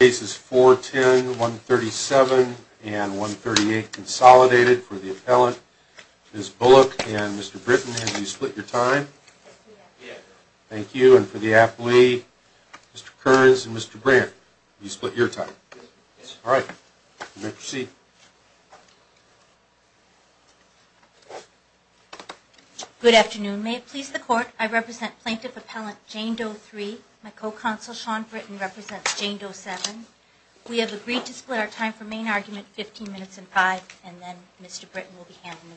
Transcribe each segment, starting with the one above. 410, 137, and 138 consolidated for the appellant. Ms. Bullock and Mr. Britton, have you split your time? Yes. Thank you. And for the athlete, Mr. Kearns and Mr. Brandt, have you split your time? Yes. All right. You may proceed. Good afternoon. May it please the Court, I represent plaintiff appellant Jane Doe-3. My co-counsel Sean Britton represents Jane Doe-7. We have agreed to split our time for main argument 15 minutes and 5, and then Mr. Britton will be handling the rebuttal.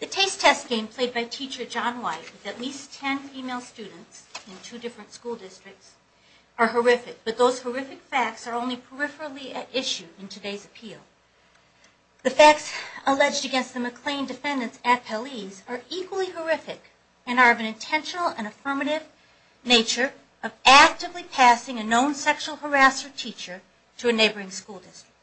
The taste test game played by teacher John White with at least 10 female students in two different school districts are horrific, but those horrific facts are only peripherally at issue in today's appeal. The facts alleged against the McLean defendants appellees are equally horrific and are of an intentional and affirmative nature of actively passing a known sexual harasser teacher to a neighboring school district.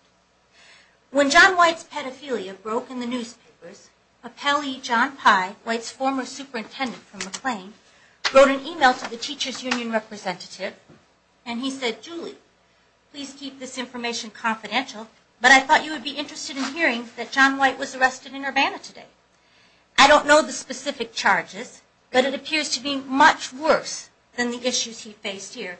When John White's pedophilia broke in the newspapers, appellee John Pye, White's former superintendent from McLean, wrote an email to the teacher's union representative and he said, Please keep this information confidential, but I thought you would be interested in hearing that John White was arrested in Urbana today. I don't know the specific charges, but it appears to be much worse than the issues he faced here.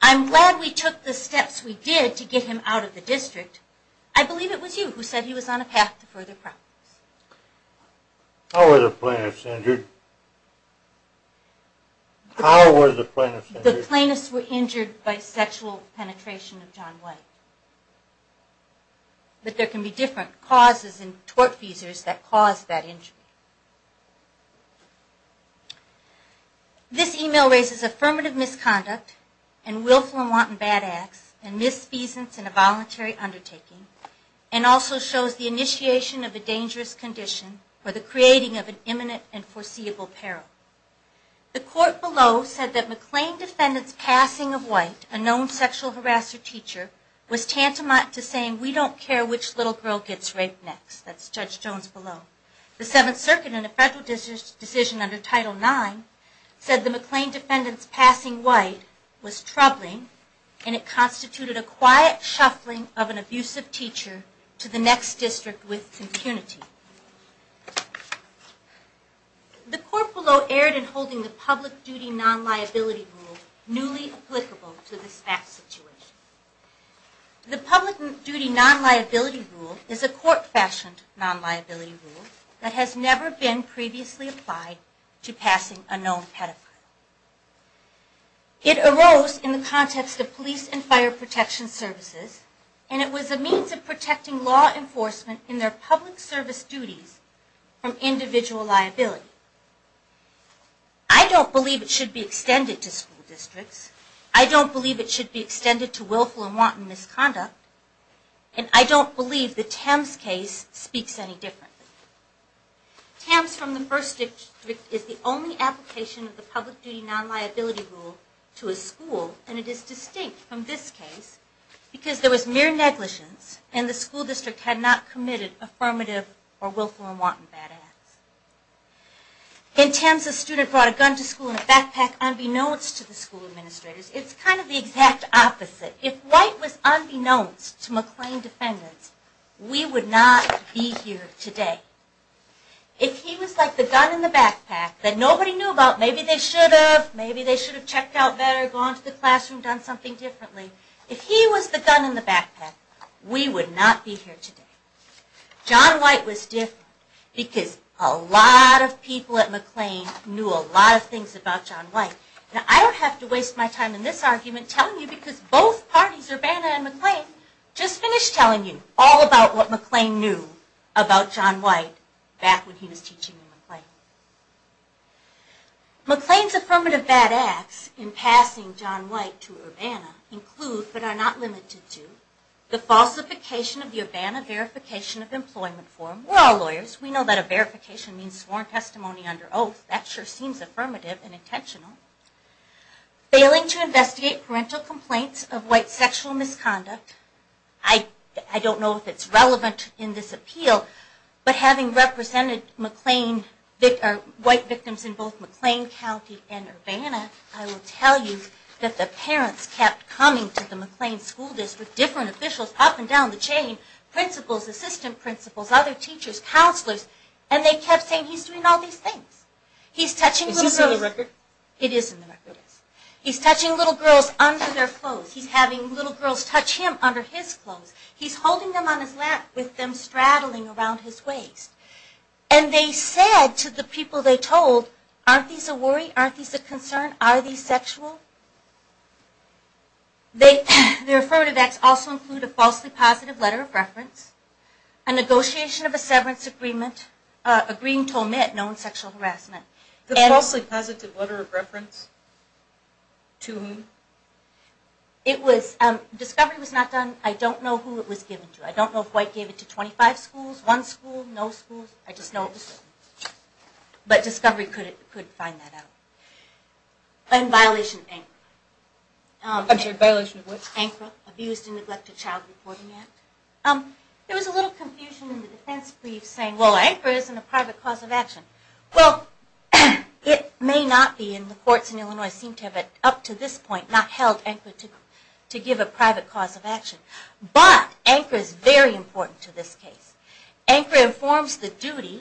I'm glad we took the steps we did to get him out of the district. I believe it was you who said he was on a path to further problems. How were the plaintiffs injured? The plaintiffs were injured by sexual penetration of John White. But there can be different causes and tort feasors that cause that injury. This email raises affirmative misconduct and willful and wanton bad acts and misfeasance in a voluntary undertaking and also shows the initiation of a dangerous condition or the creating of an imminent and foreseeable peril. The court below said that McLean defendant's passing of White, a known sexual harasser teacher, was tantamount to saying we don't care which little girl gets raped next. That's Judge Jones below. The Seventh Circuit in a federal decision under Title IX said the McLean defendant's passing White was troubling and it constituted a quiet shuffling of an abusive teacher to the next district with impunity. The court below erred in holding the public duty non-liability rule newly applicable to this fact situation. The public duty non-liability rule is a court-fashioned non-liability rule that has never been previously applied to passing a known pedophile. It arose in the context of police and fire protection services and it was a means of protecting law enforcement in their public service duties from individual liability. I don't believe it should be extended to school districts, I don't believe it should be extended to willful and wanton misconduct, and I don't believe the Thames case speaks any differently. Thames from the first district is the only application of the public duty non-liability rule to a school and it is distinct from this case, because there was mere negligence and the school district had not committed affirmative or willful and wanton bad acts. In Thames, a student brought a gun to school in a backpack unbeknownst to the school administrators. It's kind of the exact opposite. If White was unbeknownst to McLean defendants, we would not be here today. If he was like the gun in the backpack that nobody knew about, maybe they should have, maybe they should have checked out better, gone to the classroom, done something differently, if he was the gun in the backpack, we would not be here today. John White was different because a lot of people at McLean knew a lot of things about John White. Now I don't have to waste my time in this argument telling you because both parties, Urbana and McLean, just finished telling you all about what McLean knew about John White back when he was teaching at McLean. McLean's affirmative bad acts in passing John White to Urbana include, but are not limited to, the falsification of the Urbana verification of employment form. We're all lawyers, we know that a verification means sworn testimony under oath, that sure seems affirmative and intentional. Failing to investigate parental complaints of White sexual misconduct. I don't know if it's relevant in this appeal, but having represented White victims in both McLean County and Urbana, I will tell you that the parents kept coming to the McLean school district, different officials up and down the chain, principals, assistant principals, other teachers, counselors, and they kept saying he's doing all these things. He's touching little girls. Is this in the record? It is in the record. He's touching little girls under their clothes. He's having little girls touch him under his clothes. He's holding them on his lap with them straddling around his waist. And they said to the people they told, aren't these a worry? Aren't these a concern? Are these sexual? The affirmative acts also include a falsely positive letter of reference, a negotiation of a severance agreement, agreeing to omit known sexual harassment. The falsely positive letter of reference? To whom? Discovery was not done. I don't know who it was given to. I don't know if White gave it to 25 schools, one school, no schools, I just know it was given to them. But Discovery could find that out. And violation of ANCRA. I'm sorry, violation of what? ANCRA, Abused and Neglected Child Reporting Act. There was a little confusion in the defense brief saying, well, ANCRA isn't a private cause of action. Well, it may not be, and the courts in Illinois seem to have up to this point not held ANCRA to give a private cause of action. But ANCRA is very important to this case. ANCRA informs the duty,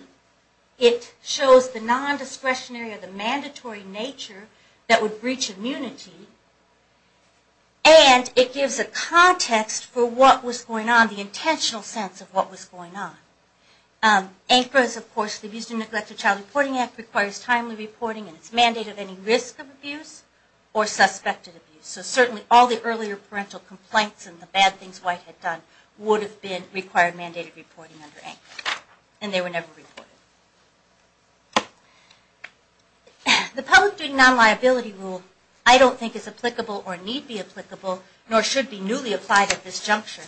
it shows the non-discretionary or the mandatory nature that would breach immunity, and it gives a context for what was going on, the intentional sense of what was going on. ANCRA is, of course, the Abused and Neglected Child Reporting Act requires timely reporting, and it's mandated any risk of abuse or suspected abuse. So certainly all the earlier parental complaints and the bad things White had done would have been required mandated reporting under ANCRA. And they were never reported. The public duty non-liability rule I don't think is applicable or need be applicable, nor should be newly applied at this juncture.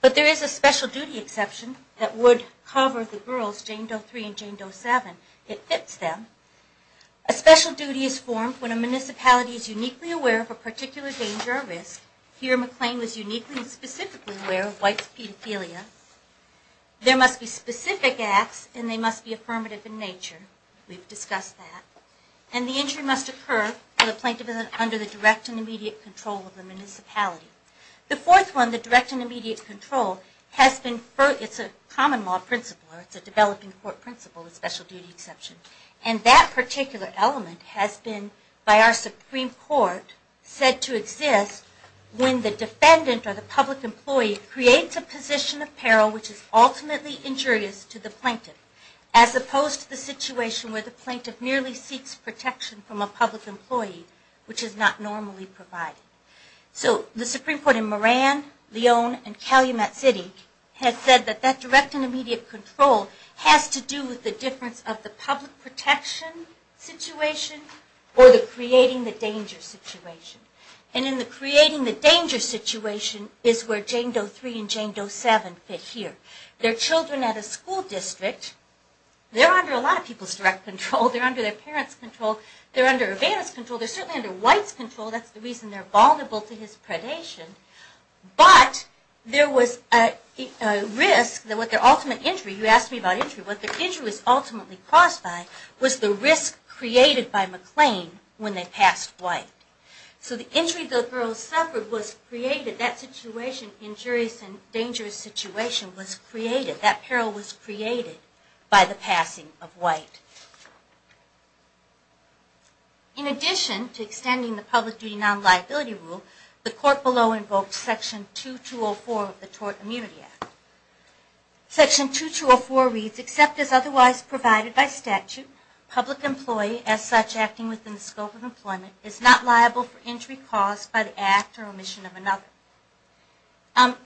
But there is a special duty exception that would cover the girls, Jane Doe 3 and Jane Doe 7. It fits them. A special duty is formed when a municipality is uniquely aware of a particular danger or risk. Here McLean was uniquely and specifically aware of White's pedophilia. There must be specific acts and they must be affirmative in nature. We've discussed that. And the injury must occur for the plaintiff under the direct and immediate control of the municipality. The fourth one, the direct and immediate control, it's a common law principle, or it's a developing court principle, a special duty exception. And that particular element has been, by our Supreme Court, said to exist when the defendant or the public employee creates a position of peril, which is ultimately injurious to the plaintiff, as opposed to the situation where the plaintiff merely seeks protection from a public employee, which is not normally provided. So the Supreme Court in Moran, Leone, and Calumet City has said that that direct and immediate control has to do with the difference of the public protection situation or the creating the danger situation. And in the creating the danger situation is where Jane Doe 3 and Jane Doe 7 fit here. They're children at a school district. They're under a lot of people's direct control. They're under their parents' control. They're under Evanna's control. They're certainly under White's control. That's the reason they're vulnerable to his predation. But there was a risk that with their ultimate injury, you asked me about injury, what their injury was ultimately caused by was the risk created by McLean when they passed White. So the injury the girls suffered was created, that situation, injurious and dangerous situation, was created. In addition to extending the public duty non-liability rule, the court below invokes Section 2204 of the Tort Immunity Act. Section 2204 reads, except as otherwise provided by statute, public employee, as such, acting within the scope of employment, is not liable for injury caused by the act or omission of another.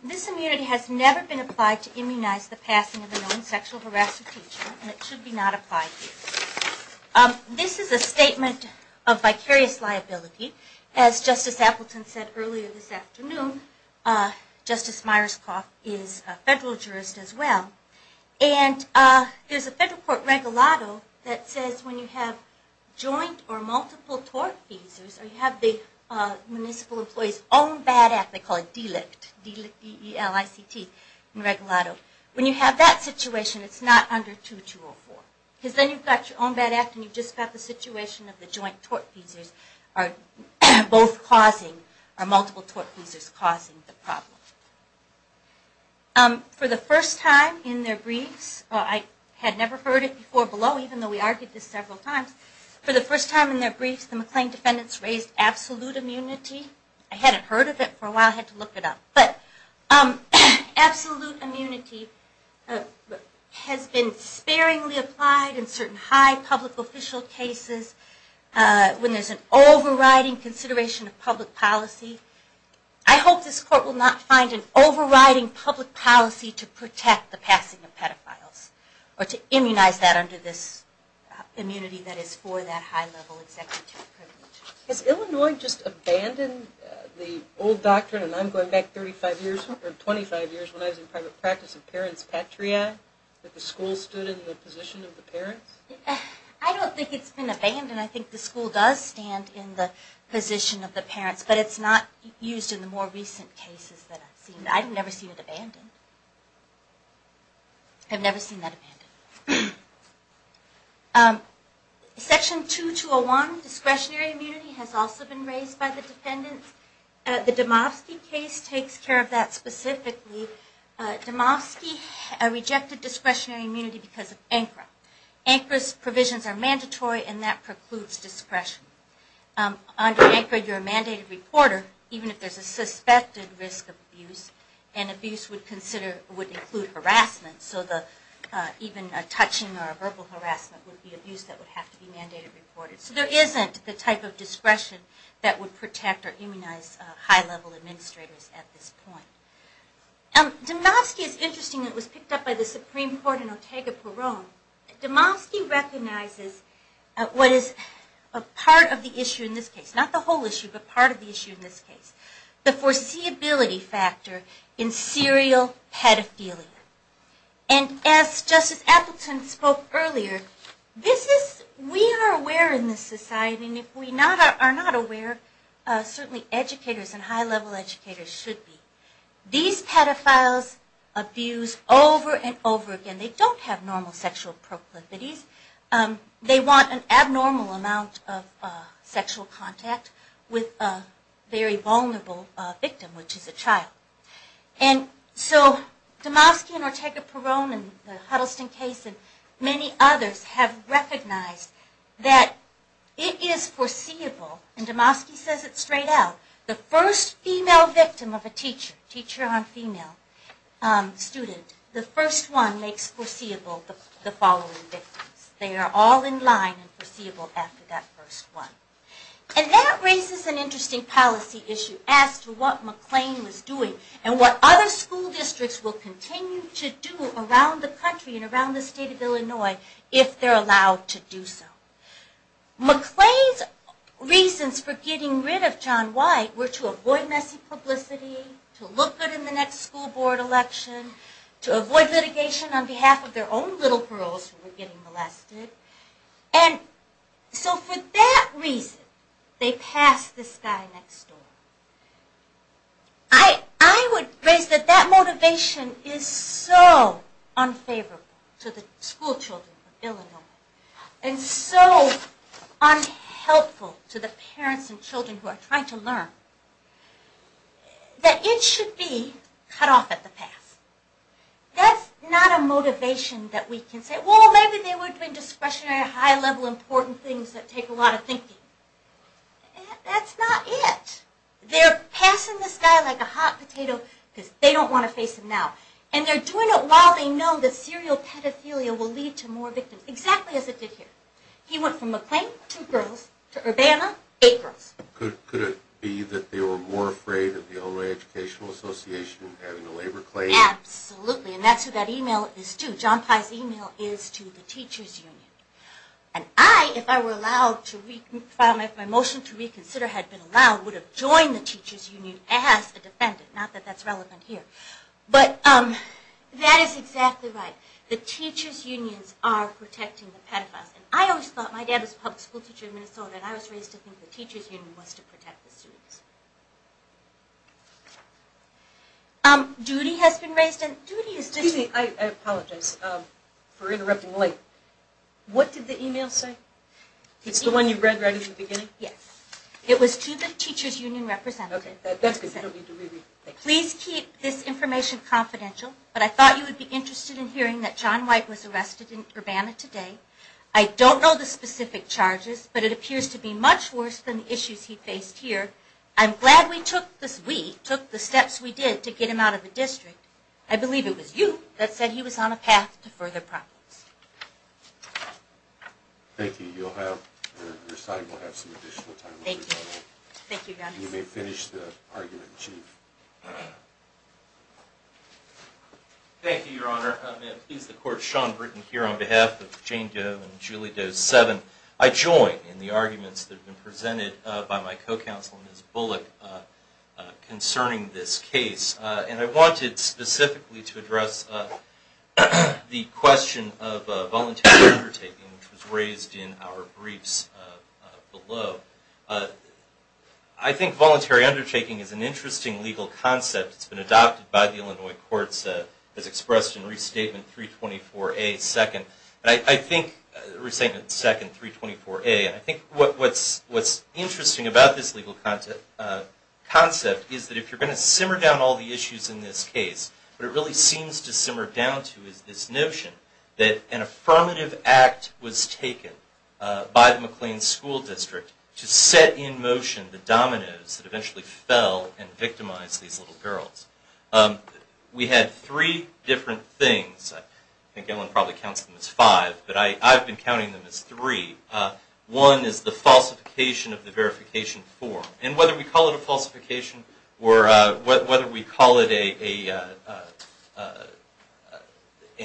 This immunity has never been applied to immunize the passing of a known sexual harassment teacher, and it should be not applied here. This is a statement of vicarious liability. As Justice Appleton said earlier this afternoon, Justice Myerscough is a federal jurist as well. And there's a federal court regalado that says when you have joint or multiple tort cases, or you have the municipal employee's own bad act, they call it DELICT, D-E-L-I-C-T, in regalado, when you have that situation, it's not under 2204. Because then you've got your own bad act, and you've just got the situation of the joint tort cases, or both causing, or multiple tort cases causing the problem. For the first time in their briefs, I had never heard it before below, even though we argued this several times, for the first time in their briefs, the McClain defendants raised absolute immunity. I hadn't heard of it for a while, I had to look it up. But absolute immunity has been sparingly applied in certain high public official cases, when there's an overriding consideration of public policy. I hope this court will not find an overriding public policy to protect the passing of pedophiles, or to immunize that under this immunity that is for that high level executive privilege. Has Illinois just abandoned the old doctrine, and I'm going back 25 years when I was in private practice, of parents patria, that the school stood in the position of the parents? I don't think it's been abandoned, I think the school does stand in the position of the parents, but it's not used in the more recent cases that I've seen. I've never seen it abandoned. I've never seen that abandoned. Section 2201, discretionary immunity, has also been raised by the defendants. The Domofsky case takes care of that specifically. Domofsky rejected discretionary immunity because of ANCRA. ANCRA's provisions are mandatory, and that precludes discretion. Under ANCRA, you're a mandated reporter, even if there's a suspected risk of abuse, even a touching or a verbal harassment would be abuse that would have to be mandated reported. So there isn't the type of discretion that would protect or immunize high level administrators at this point. Domofsky is interesting, it was picked up by the Supreme Court in Otago, Peron. Domofsky recognizes what is part of the issue in this case, not the whole issue, but part of the issue in this case. The foreseeability factor in serial pedophilia. As Justice Appleton spoke earlier, we are aware in this society, and if we are not aware, certainly educators and high level educators should be. These pedophiles abuse over and over again. They don't have normal sexual proclivities. They want an abnormal amount of sexual contact with a very vulnerable victim, which is a child. And so Domofsky and Otago Peron and the Huddleston case and many others have recognized that it is foreseeable, and Domofsky says it straight out, the first female victim of a teacher, teacher on female student, the first one makes foreseeable the following victims. They are all in line and foreseeable after that first one. And that raises an interesting policy issue as to what McLean was doing and what other school districts will continue to do around the country and around the state of Illinois if they are allowed to do so. McLean's reasons for getting rid of John White were to avoid messy publicity, to look good in the next school board election, to avoid litigation on behalf of their own little girls who were getting molested. And so for that reason they passed this guy next door. I would raise that that motivation is so unfavorable to the school children of Illinois and so unhelpful to the parents and children who are trying to learn that it should be cut off at the pass. That's not a motivation that we can say, well maybe they would bring discretionary high-level important things that take a lot of thinking. That's not it. They're passing this guy like a hot potato because they don't want to face him now. And they're doing it while they know that serial pedophilia will lead to more victims, exactly as it did here. He went from McLean, two girls, to Urbana, eight girls. Could it be that they were more afraid of the Illinois Educational Association having a labor claim? Absolutely. And that's who that email is to. John Pye's email is to the teachers union. And I, if I were allowed to file my motion to reconsider, had been allowed, would have joined the teachers union as a defendant. Not that that's relevant here. But that is exactly right. The teachers unions are protecting the pedophiles. And I always thought, my dad was a public school teacher in Minnesota, and I was raised to think the teachers union was to protect the students. Judy has been raised, and Judy is just... Excuse me, I apologize for interrupting late. What did the email say? It's the one you read right at the beginning? Yes. It was to the teachers union representative. Please keep this information confidential, but I thought you would be interested in hearing that John White was arrested in Urbana today. I don't know the specific charges, but it appears to be much worse than the issues he faced here. I'm glad we took the steps we did to get him out of the district. I believe it was you that said he was on a path to further problems. Thank you. Your side will have some additional time. You may finish the argument in chief. Thank you, Your Honor. May it please the Court, Sean Britton here on behalf of Jane Doe and Julie Doe 7. I join in the arguments that have been presented by my co-counsel, Ms. Bullock, concerning this case. And I wanted specifically to address the question of voluntary undertaking, which was raised in our briefs below. I think voluntary undertaking is an interesting legal concept. It's been adopted by the Illinois Courts as expressed in Restatement 324A, 2nd. And I think what's interesting about this legal concept is that if you're going to simmer down all the years to the issues in this case, what it really seems to simmer down to is this notion that an affirmative act was taken by the McLean School District to set in motion the dominoes that eventually fell and victimized these little girls. We had three different things. I think Ellen probably counts them as five, but I've been counting them as three. One is the falsification of the verification form. And whether we call it a falsification or whether we call it an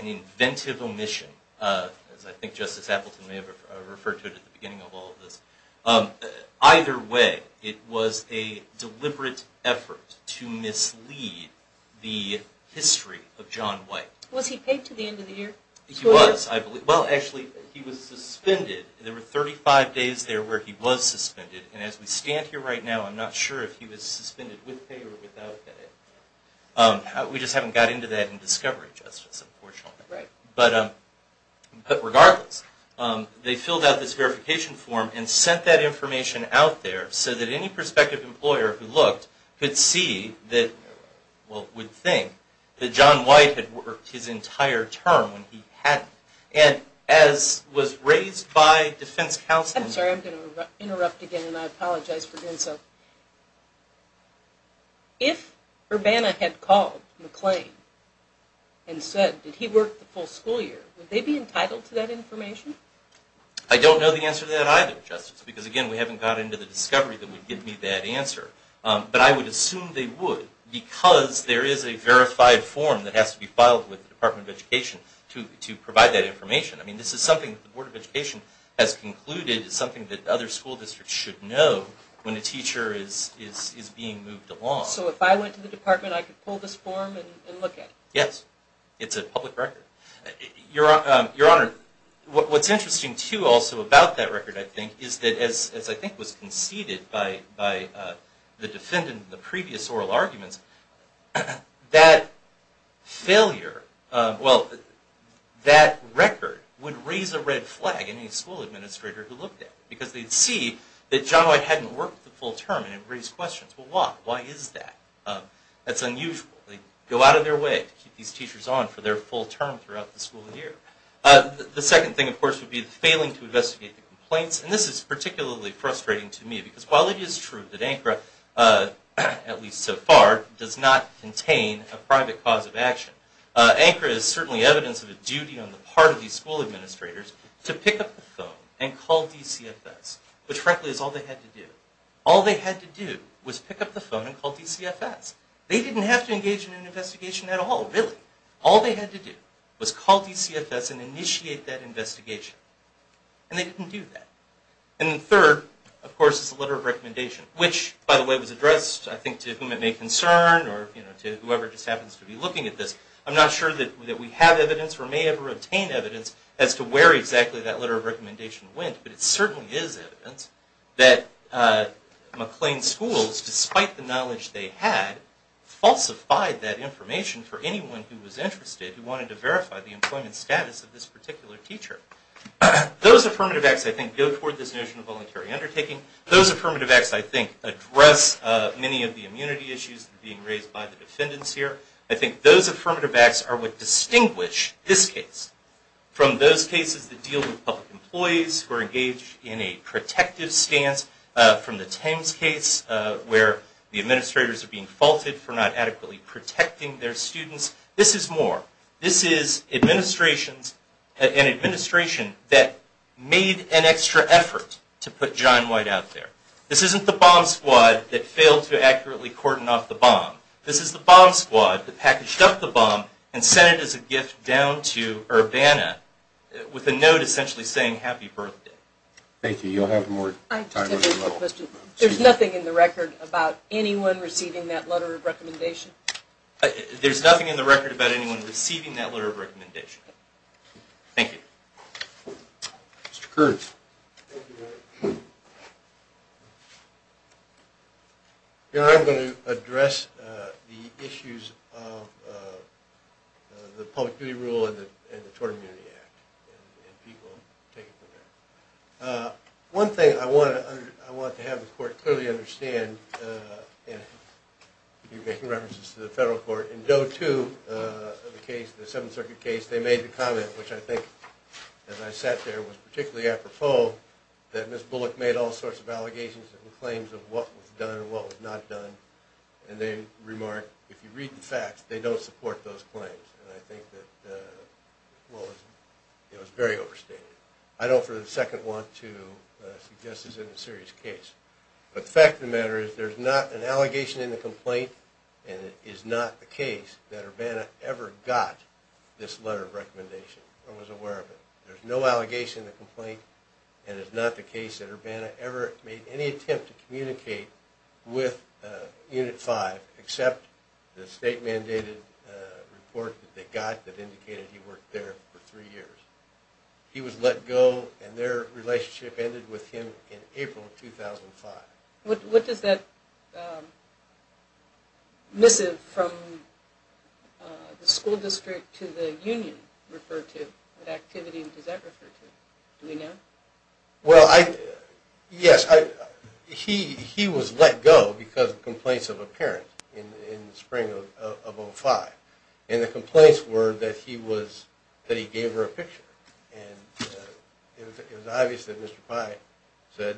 inventive omission, as I think Justice Appleton may have referred to it at the beginning of all of this, either way it was a deliberate effort to mislead the history of John White. Was he paid to the end of the year? He was, I believe. Well, actually, he was suspended. There were 35 days there where he was suspended, and as we stand here right now, I'm not sure if he was suspended with pay or without pay. We just haven't got into that in discovery, Justice, unfortunately. But regardless, they filled out this verification form and sent that information out there so that any prospective employer who looked could see, well, would think, that John White had worked his entire term when he hadn't. And as was raised by defense counsel... I'm sorry, I'm going to interrupt again, and I apologize for doing so. If Urbana had called McLean and said that he worked the full school year, would they be entitled to that information? I don't know the answer to that either, Justice, because again, we haven't got into the discovery that would give me that answer. But I would assume they would, because there is a verified form that has to be filed I mean, this is something that the Board of Education has concluded is something that other school districts should know when a teacher is being moved along. So if I went to the department, I could pull this form and look at it? Yes. It's a public record. Your Honor, what's interesting, too, also about that record, I think, is that as I think was conceded by the defendant in the previous oral arguments, that failure, well, that record would raise a red flag in any school administrator who looked at it. Because they'd see that John White hadn't worked the full term and it would raise questions. Well, why? Why is that? That's unusual. They'd go out of their way to keep these teachers on for their full term throughout the school year. The second thing, of course, would be the failing to investigate the complaints. And this is particularly frustrating to me, because while it is true that ANCRA, at least so far, does not contain a private cause of action, ANCRA is certainly evidence of a duty on the part of these school administrators to pick up the phone and call DCFS. Which, frankly, is all they had to do. All they had to do was pick up the phone and call DCFS. They didn't have to engage in an investigation at all, really. All they had to do was call DCFS and initiate that investigation. And they didn't do that. And third, of course, is the letter of recommendation. Which, by the way, was addressed, I think, to whom it may concern or to whoever just happens to be looking at this. I'm not sure that we have evidence or may ever obtain evidence as to where exactly that letter of recommendation went. But it certainly is evidence that McLean Schools, despite the knowledge they had, falsified that information for anyone who was interested who wanted to verify the employment status of this particular teacher. Those affirmative acts, I think, go toward this notion of voluntary undertaking. Those affirmative acts, I think, address many of the immunity issues that are being raised by the defendants here. I think those affirmative acts are what distinguish this case from those cases that deal with public employees who are engaged in a protective stance, from the Thames case, where the administrators are being faulted for not adequately protecting their students. This is more. This is an administration that made an extra effort to put John White out there. This isn't the bomb squad that failed to accurately cordon off the bomb. This is the bomb squad that packaged up the bomb and sent it as a gift down to Urbana with a note essentially saying happy birthday. There's nothing in the record about anyone receiving that letter of recommendation? There's nothing in the record about anyone receiving that letter of recommendation. I'm going to address the issues of the public duty rule and the Tort Immunity Act. One thing I want to have the court clearly understand, if you're making references to the federal court, in Doe 2, the 7th Circuit case, they made the comment, which I think as I sat there was particularly apropos, that Ms. Bullock made all sorts of allegations and claims of what was done and what was not done. They remarked, if you read the facts, they don't support those claims. I think it was very overstated. I don't for the second want to suggest it's a serious case. But the fact of the matter is there's not an allegation in the complaint, and it is not the case that Urbana ever got this letter of recommendation or was aware of it. There's no allegation in the complaint and it's not the case that Urbana ever made any attempt to communicate with Unit 5 except the state-mandated report that they got that indicated he worked there for three years. He was let go and their relationship ended with him in April of 2005. What does that missive from the school district to the union refer to? What activity does that refer to? Do we know? Well, yes, he was let go because of complaints of a parent in the spring of 2005. And the complaints were that he gave her a picture. It was obvious that Mr. Pye said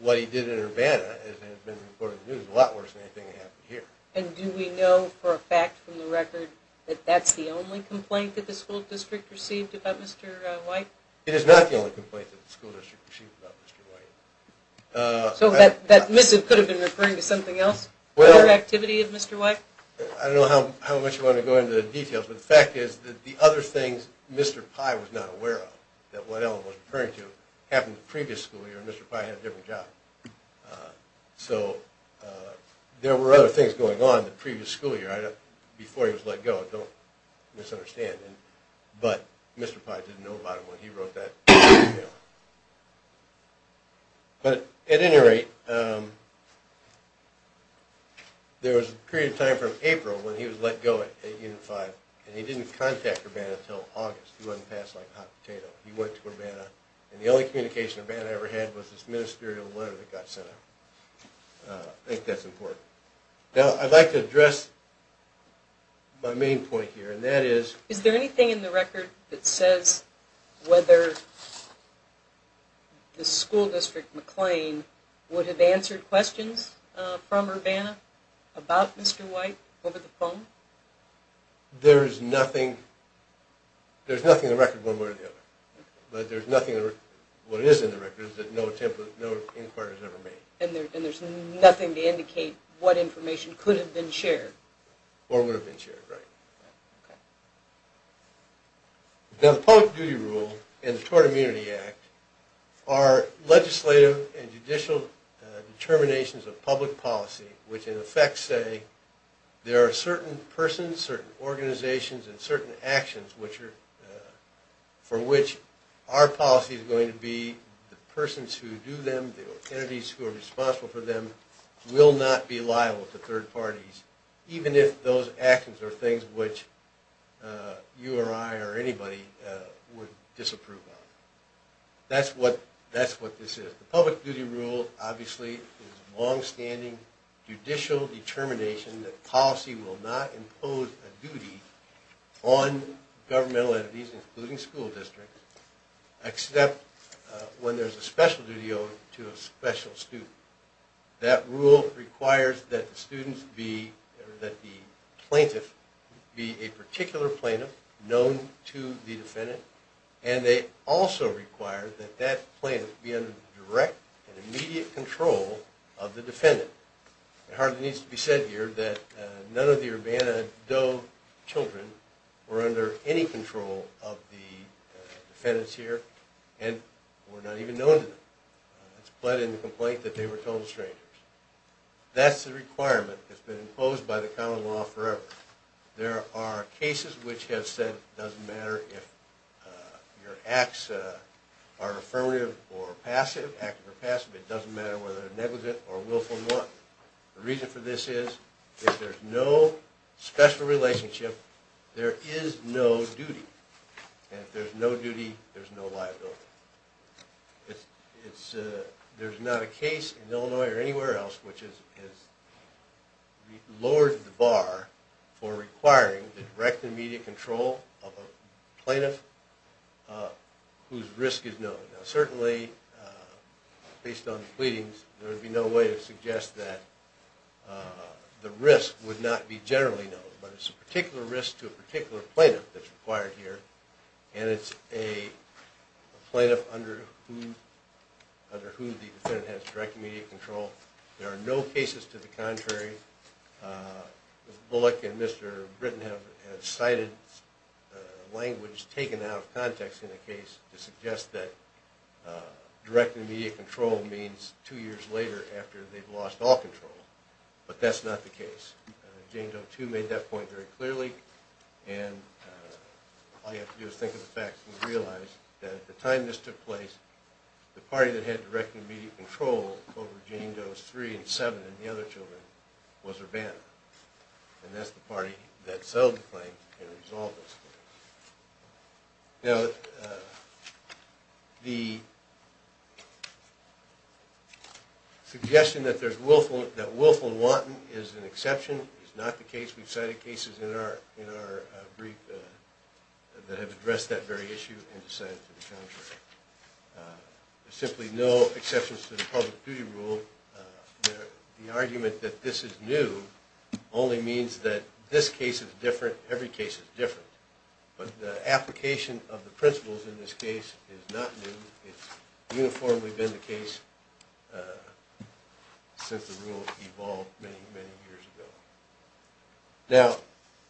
what he did in Urbana, as it had been reported in the news, was a lot worse than anything that happened here. And do we know for a fact from the record that that's the only complaint that the school district received about Mr. White? It is not the only complaint that the school district received about Mr. White. So that missive could have been referring to something else? I don't know how much you want to go into the details, but the fact is that the other things Mr. Pye was not aware of, what Ellen was referring to, happened the previous school year and Mr. Pye had a different job. So there were other things going on the previous school year before he was let go. Don't misunderstand, but Mr. Pye didn't know about it when he wrote that. But at any rate, there was a period of time from April when he was let go at Unit 5 and he didn't contact Urbana until August. The only communication Urbana ever had was this ministerial letter that got sent out. I think that's important. Is there anything in the record that says whether the school district McLean would have answered questions from Urbana about Mr. White over the phone? There's nothing in the record one way or the other. What is in the record is that no inquiries were made. And there's nothing to indicate what information could have been shared? Or would have been shared, right. The Public Duty Rule and the Tort Immunity Act are legislative and judicial determinations of public policy, which in effect say there are certain persons, certain organizations, and certain actions for which our policy is going to be the persons who do them, the entities who are responsible for them, will not be liable to third parties, even if those actions are things which you or I or anybody would disapprove of. That's what this is. The Public Duty Rule obviously is longstanding judicial determination that policy will not impose a duty on governmental entities, including school districts, except when there's a special duty owed to a special student. That rule requires that the plaintiff be a particular plaintiff known to the defendant, and they also require that that plaintiff be under direct and immediate control of the defendant. It hardly needs to be said here that none of the Urbana-Doe children were under any control of the defendants here, and were not even known to them. It's plain in the complaint that they were total strangers. That's the requirement that's been imposed by the common law forever. There are cases which have said it doesn't matter if your acts are affirmative or passive, active or passive, it doesn't matter whether they're negligent or willful or not. The reason for this is if there's no special relationship, there is no duty. And if there's no duty, there's no liability. There's not a case in Illinois or anywhere else which has lowered the bar for requiring the direct and immediate control of a plaintiff whose risk is known. Certainly, based on the pleadings, there would be no way to suggest that the risk would not be generally known, but it's a particular risk to a particular plaintiff that's required here, and it's a plaintiff under who the defendant has direct and immediate control. There are no cases to the contrary. Mr. Bullock and Mr. Britton have cited language taken out of context in the case to suggest that direct and immediate control means two years later after they've lost all control, but that's not the case. Jane Doe, too, made that point very clearly, and all you have to do is think of the facts and realize that at the time this took place, the party that had direct and immediate control over Jane Doe's three and seven and the other children was Urbana, and that's the party that settled the claim and resolved this. Now, the suggestion that Willful and Wanton is an exception is not the case. We've cited cases in our brief that have addressed that very issue and decided to do the contrary. There are simply no exceptions to the public duty rule. The argument that this is new only means that this case is different, every case is different, but the application of the principles in this case is not new. It's uniformly been the case since the rule evolved many, many years ago. Now,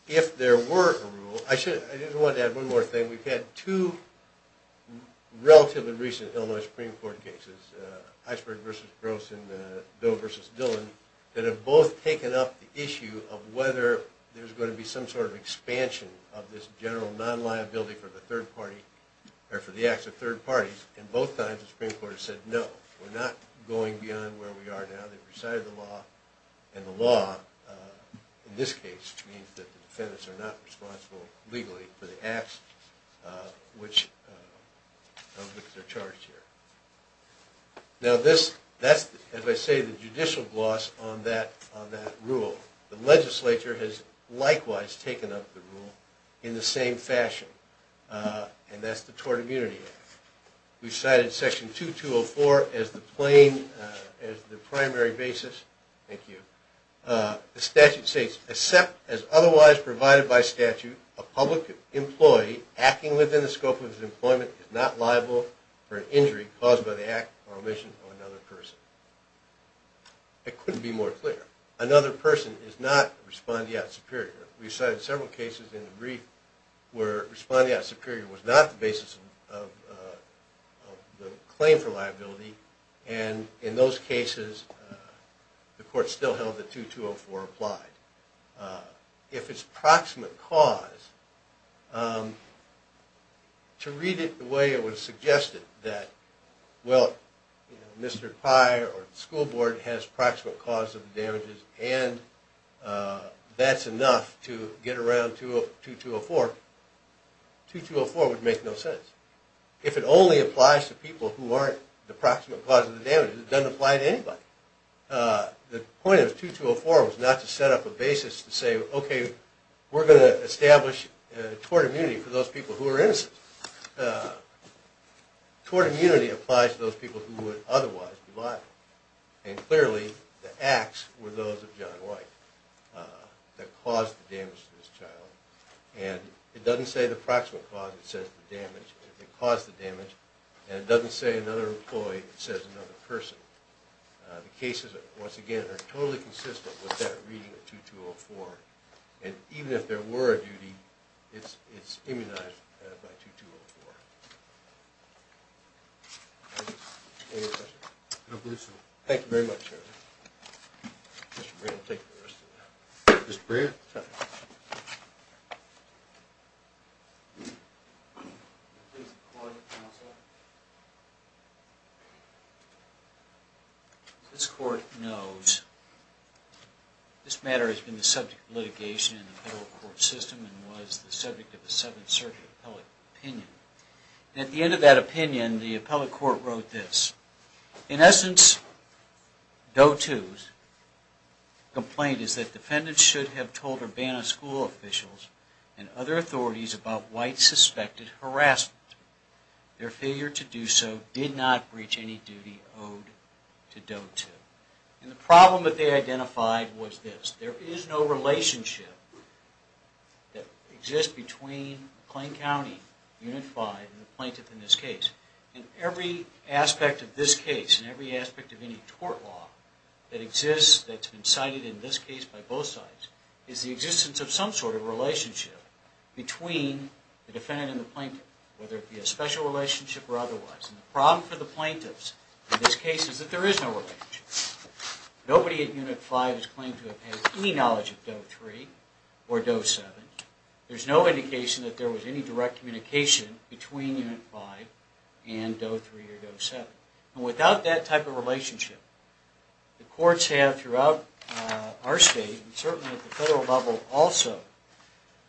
if there were a rule, I just wanted to add one more thing. We've had two relatively recent Illinois Supreme Court cases, Heisberg v. Gross and Doe v. Dillon, that have both taken up the issue of whether there's going to be some sort of expansion of this general non-liability for the acts of third parties, and both times the Supreme Court has said no, we're not going beyond where we are now. They've recited the law in this case, which means that the defendants are not responsible legally for the acts of which they're charged here. Now, that's, as I say, the judicial gloss on that rule. The legislature has likewise taken up the rule in the same fashion, and that's the Tort Immunity Act. We've cited Section 2204 as the primary basis. Thank you. The statute states, except as otherwise provided by statute, a public employee acting within the scope of his employment is not liable for an injury caused by the act or omission of another person. It couldn't be more clear. Another person is not respondeat superior. We've cited several cases in the brief where respondeat superior was not the basis of the claim for liability, and in those cases the court still held that 2204 applied. If it's proximate cause, to read it the way it was suggested, that, well, Mr. Pye or the school board has proximate cause of the damages, and that's enough to get around 2204, 2204 would make no sense. If it only applies to people who aren't the proximate cause of the damages, it doesn't apply to anybody. The point of 2204 was not to set up a basis to say, okay, we're going to establish tort immunity for those people who are innocent. Tort immunity applies to those people who would otherwise be liable, and clearly the acts were those of John White that caused the damage to this child, and it doesn't say the proximate cause that caused the damage, and it doesn't say another employee, it says another person. The cases, once again, are totally consistent with that reading of 2204, and even if there were a duty, it's not going to apply to anybody. Thank you very much. Mr. Breyer. This court knows this matter has been the subject of litigation in the federal court system and was the subject of the public court wrote this. In essence, Doe 2's complaint is that defendants should have told Urbana school officials and other authorities about White's suspected harassment. Their failure to do so did not breach any duty owed to Doe 2. And the problem that they identified was this. There is no relationship that exists between McLean County, Unit 5, and the plaintiff in this case. And every aspect of this case and every aspect of any tort law that exists that's been cited in this case by both sides is the existence of some sort of relationship between the defendant and the plaintiff, whether it be a special relationship or otherwise. And the problem for the plaintiffs in this case is that there is no relationship. Nobody at Unit 5 has claimed to have had any knowledge of Doe 3 or Doe 7. There's no indication that there was any direct communication between Unit 5 and Doe 3 or Doe 7. And without that type of relationship, the courts have throughout our state, and certainly at the federal level also,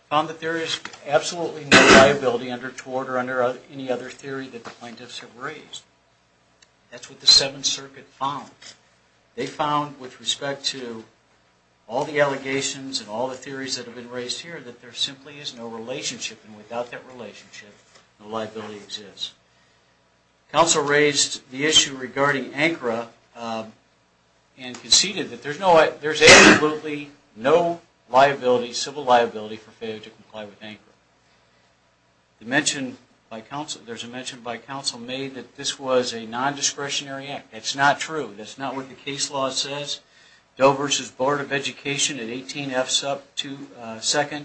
found that there is absolutely no liability under tort or under any other theory that the plaintiffs have raised. That's what the Seventh Circuit found. They found with respect to all the allegations and all the theories that have been raised here that there simply is no relationship. And without that relationship, no liability exists. Counsel raised the issue regarding ANCRA and conceded that there's absolutely no liability, civil liability, for failure to comply with ANCRA. There's a mention by counsel made that this was a non-discretionary act. That's not true. That's not what the case law says. Doe v. Board of Education at 18F 2nd,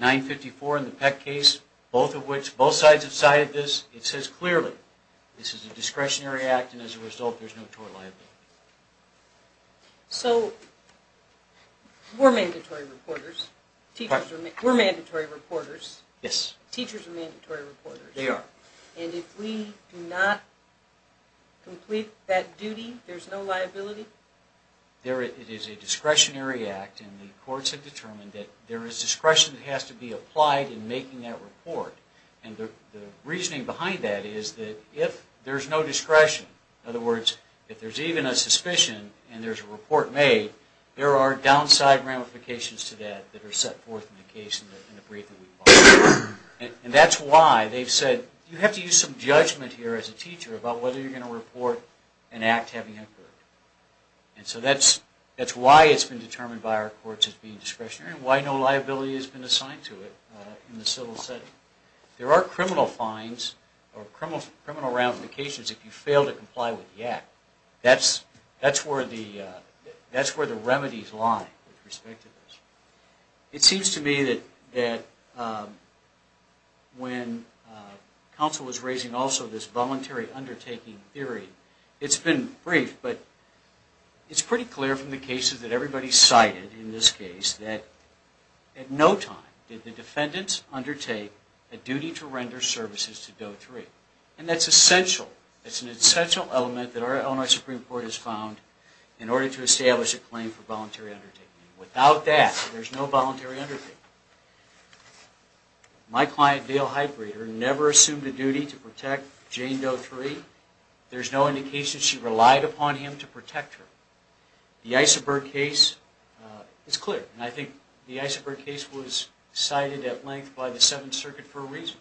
954 in the Peck case, both sides decided this. It says clearly this is a discretionary act and as a result there's no tort liability. So we're mandatory reporters. We're mandatory reporters. Teachers are mandatory reporters. And if we do not complete that duty, there's no liability? It is a discretionary act and the courts have determined that there is discretion that has to be applied in making that report. And the reasoning behind that is that if there's no discretion, in other words, if there's even a suspicion and there's a report made, there are downside ramifications to that that are set forth in the case and the brief that we file. And that's why they've said you have to use some judgment here as a teacher about whether you're going to report an act having occurred. And so that's why it's been determined by our courts as being discretionary and why no liability has been made. That's where the remedies lie with respect to this. It seems to me that when counsel was raising also this voluntary undertaking theory, it's been brief, but it's pretty clear from the cases that everybody cited in this case that at no time did the defendants undertake a duty to render services to Doe 3. And that's essential. It's an essential element that our Illinois Supreme Court has found in order to establish a claim for voluntary undertaking. Without that, there's no voluntary undertaking. My client, Dale Heitbreeder, never assumed a duty to protect Jane Doe 3. There's no indication she relied upon him to protect her. The Isenberg case is clear. And I think the Isenberg case was cited at length by the Seventh Circuit for a reason.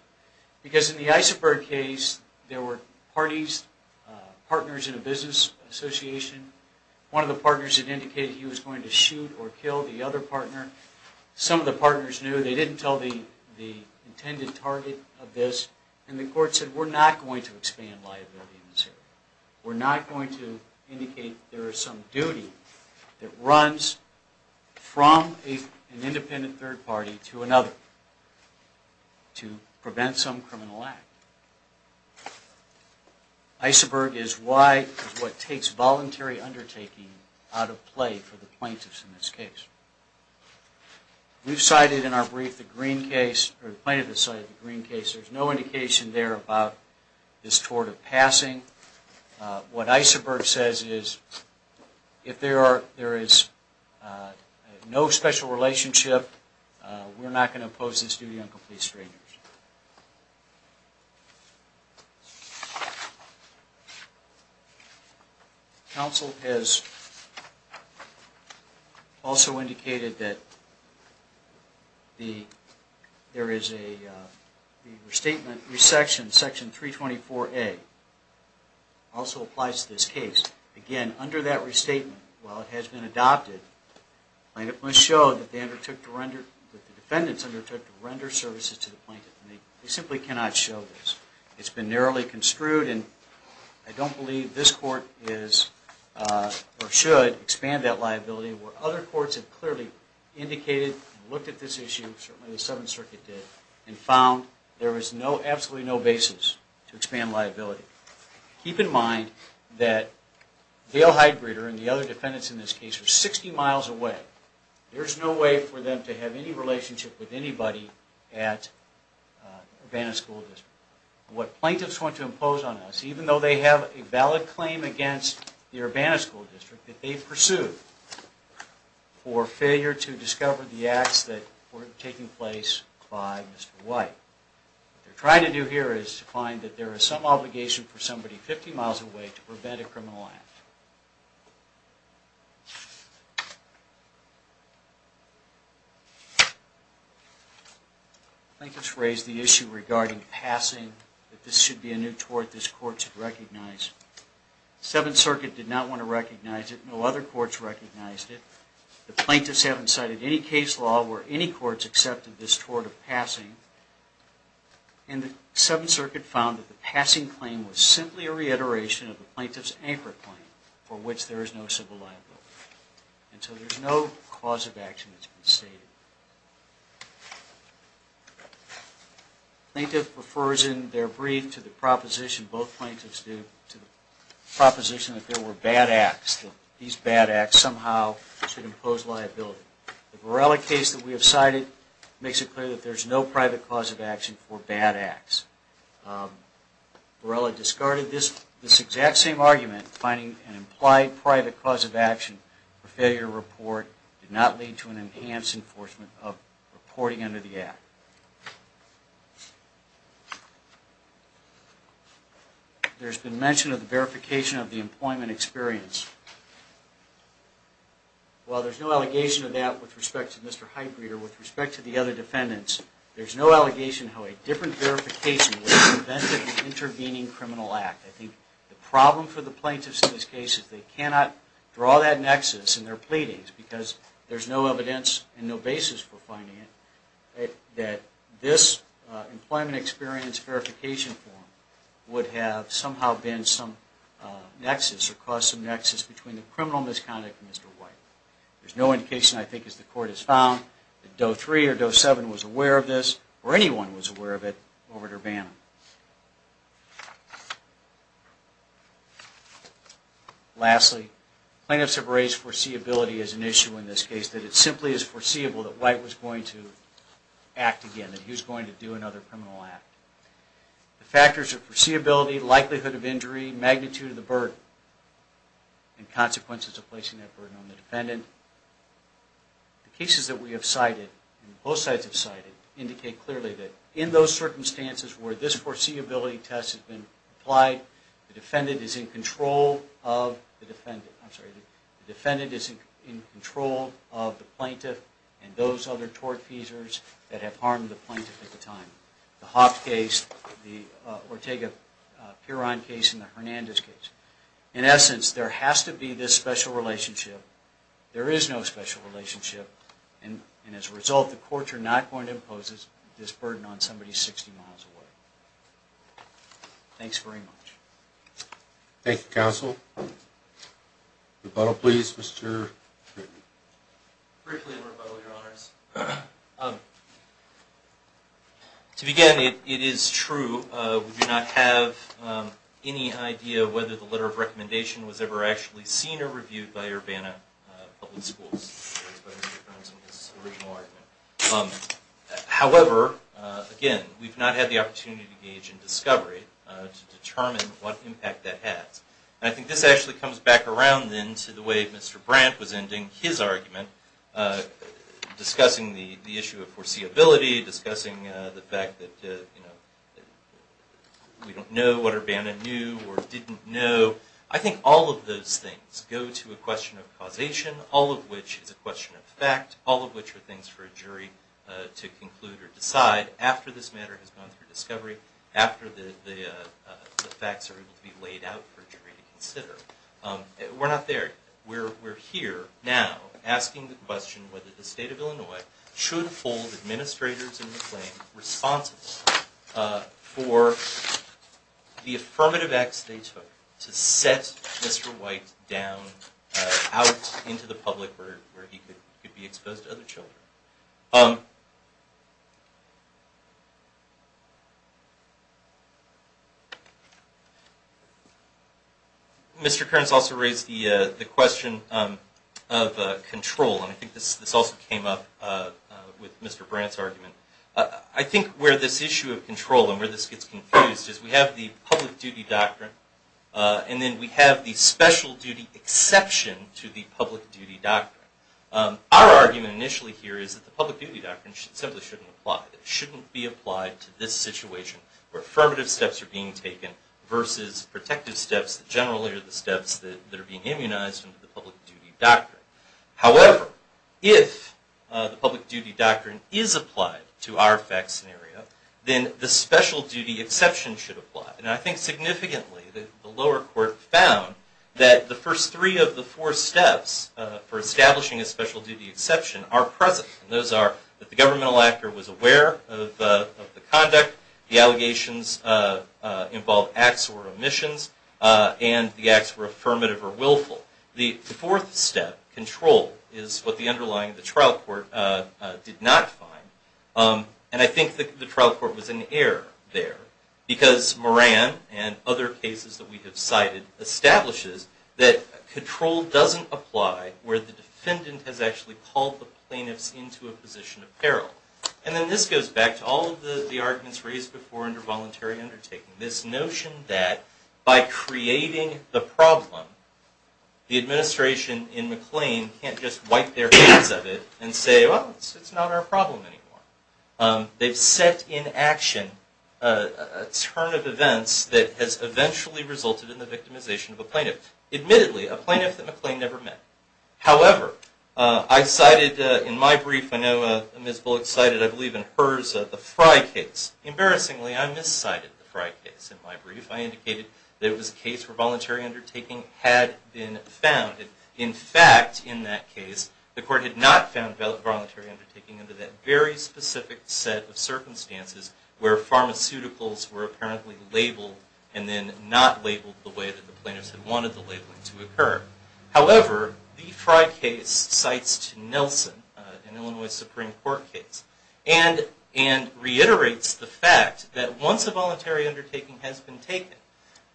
Because in the Isenberg case, there were parties, partners in a business association. One of the partners had indicated he was going to shoot or kill the other partner. Some of the partners knew. They didn't tell the intended target of this. And the court said we're not going to expand liability in this area. We're not going to indicate there is some duty that runs from an independent third party to another to prevent some criminal act. Isenberg is what takes voluntary undertaking out of play for the plaintiffs in this case. We've cited in our case this tort of passing. What Isenberg says is if there is no special relationship, we're not going to impose this duty on complete strangers. Counsel has also indicated that there is a restatement, section 324A also applies to this case. Again, under that restatement, while it has been adopted, the plaintiff must show that the defendants undertook to render services to the plaintiff. They simply cannot show this. It's been narrowly construed and I don't believe this court is or should expand that liability where other courts have clearly indicated and looked at this issue, certainly the 7th Circuit did, and found there is absolutely no basis to expand liability. Keep in mind that Dale Heidgreter and the other defendants in this case are 60 miles away. There's no way for them to have any relationship with anybody at Urbana School District. What plaintiffs want to impose on us, even though they have a valid claim against the Urbana School District, that they pursued for failure to discover the acts that were taking place by Mr. White. What they're trying to do here is to find that there is some obligation for somebody 50 miles away to prevent a criminal act. I think it's raised the issue regarding passing, that this should be a new tort this court should recognize. The 7th Circuit did not want to recognize it. No other courts recognized it. The plaintiffs haven't cited any case law where any courts accepted this tort of passing. And the 7th Circuit found that the passing claim was simply a reiteration of the plaintiff's anchor claim, for which there is no civil liability. And so there's no cause of action that's been stated. Plaintiff refers in their brief to the proposition both plaintiffs do to the proposition that there were bad acts. These bad acts somehow should impose liability. The Borrella case that we have cited makes it clear that there's no private cause of action. In that same argument, finding an implied private cause of action for failure to report did not lead to an enhanced enforcement of reporting under the Act. There's been mention of the verification of the employment experience. While there's no allegation of that with respect to Mr. Heitgreter, with respect to the other defendants, there's no verification with respect to the intervening criminal act. I think the problem for the plaintiffs in this case is they cannot draw that nexus in their pleadings, because there's no evidence and no basis for finding it, that this employment experience verification form would have somehow been some nexus or caused some nexus between the criminal misconduct of Mr. White. There's no indication, I think, as the Court has found, that Doe 3 or Doe 7 was aware of this or anyone was aware of it over at Urbana. Lastly, plaintiffs have raised foreseeability as an issue in this case, that it simply is foreseeable that White was going to act again, that he was going to do another criminal act. The factors of foreseeability, likelihood of injury, magnitude of the burden and consequences of placing that burden on the defendant. The cases that we have cited, both sides have cited, indicate clearly that in those circumstances where this foreseeability test has been applied, the defendant is in control of the plaintiff and those other tortfeasors that have harmed the plaintiff at the time. The Hoff case, the Ortega-Peron case and the Hernandez case. In essence, there has to be this special relationship. There is no special relationship, and as a result, the courts are not going to impose this burden on somebody 60 miles away. Thanks very much. Thank you, Counsel. Rebuttal, please, Mr. Kreeton. Briefly, Your Honors. To begin, it is true, we do not have any idea whether the letter of recommendation was ever actually seen or reviewed by Urbana Public Schools. However, again, we've not had the opportunity to gauge in discovery to determine what impact that has. I think this actually comes back around then to the way Mr. Brandt was ending his argument discussing the issue of foreseeability, discussing the fact that we don't know what Urbana knew or didn't know. I think all of those things go to a question of causation, all of which is a question of fact, all of which are things for a jury to conclude or decide after this matter has gone through discovery, after the facts are able to be laid out for a jury to consider. We're not there. We're here now asking the question whether the State of Illinois should hold administrators in the claim responsible for the affirmative acts they took to set Mr. White down out into the public where he could be exposed to other children. Mr. Kearns also raised the question of control, and I think this also came up with Mr. Brandt's argument. I think where this issue of control and where this gets confused is we have the public duty doctrine and then we have the special duty exception to the public duty doctrine. Our argument initially here is that the public duty doctrine simply shouldn't apply. It shouldn't be applied to this situation where affirmative steps are being taken versus protective steps that generally are the steps that are being immunized under the public duty doctrine. However, if the public duty doctrine is applied to our fact scenario, then the special duty exception should apply. And I think significantly the lower court found that the first three of the four steps for establishing a special duty exception are present. Those are that the governmental actor was aware of the conduct, the allegations involved acts or omissions, and the acts were affirmative or willful. The fourth step, control, is what the underlying trial court did not find. And I think the trial court was in error there because Moran and other cases that we have cited establishes that control doesn't apply where the defendant has actually called the plaintiffs into a position of peril. And then this goes back to all of the arguments raised before under voluntary undertaking. This notion that by creating the problem, the administration in McLean can't just wipe their hands of it and say, well, it's not our problem anymore. They've set in action a turn of events that has eventually resulted in the victimization of a plaintiff. Admittedly, a plaintiff that McLean never met. However, I cited in my brief, I know Ms. Bullock cited, I believe in hers, the Fry case. Embarrassingly, I miscited the Fry case in my brief. I indicated that it was a case where voluntary undertaking had been found. In fact, in that case, the court had not found voluntary undertaking under that very specific set of circumstances where pharmaceuticals were apparently labeled and then not labeled the way that the plaintiffs had wanted the labeling to occur. However, the Fry case cites Nelson, an Illinois Supreme Court case, and reiterates the fact that once a voluntary undertaking has been taken,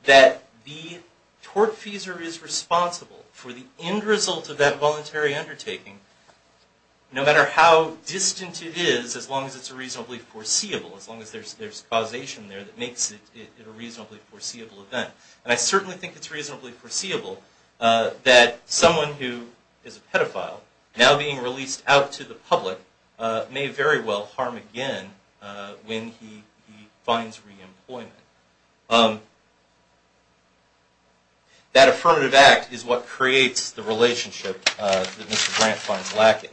that the tortfeasor is responsible for the end result of that voluntary undertaking no matter how distant it is, as long as it's reasonably foreseeable. As long as there's causation there that makes it a reasonably foreseeable event. And I certainly think it's reasonably foreseeable that someone who is a pedophile, now being released out to the public, may very well harm again when he finds re-employment. That affirmative act is what creates the relationship that Mr. Grant finds lacking.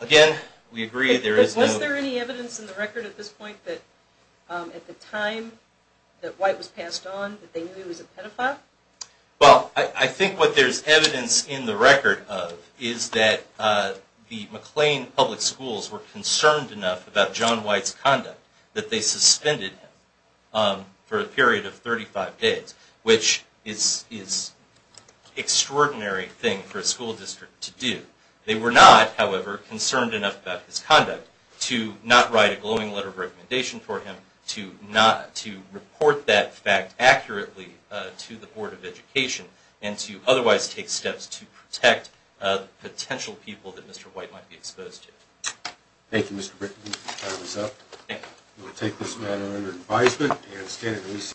Again, we agree there is no... Well, I think what there's evidence in the record of is that the McLean Public Schools were concerned enough about John White's conduct that they suspended him for a period of 35 days, which is an extraordinary thing for a school district to do. They were not, however, concerned enough about his conduct to not write a glowing letter of responsibility to the Board of Education, and to otherwise take steps to protect potential people that Mr. White might be exposed to. Thank you, Mr. Britton. Time is up. We will take this matter under advisement.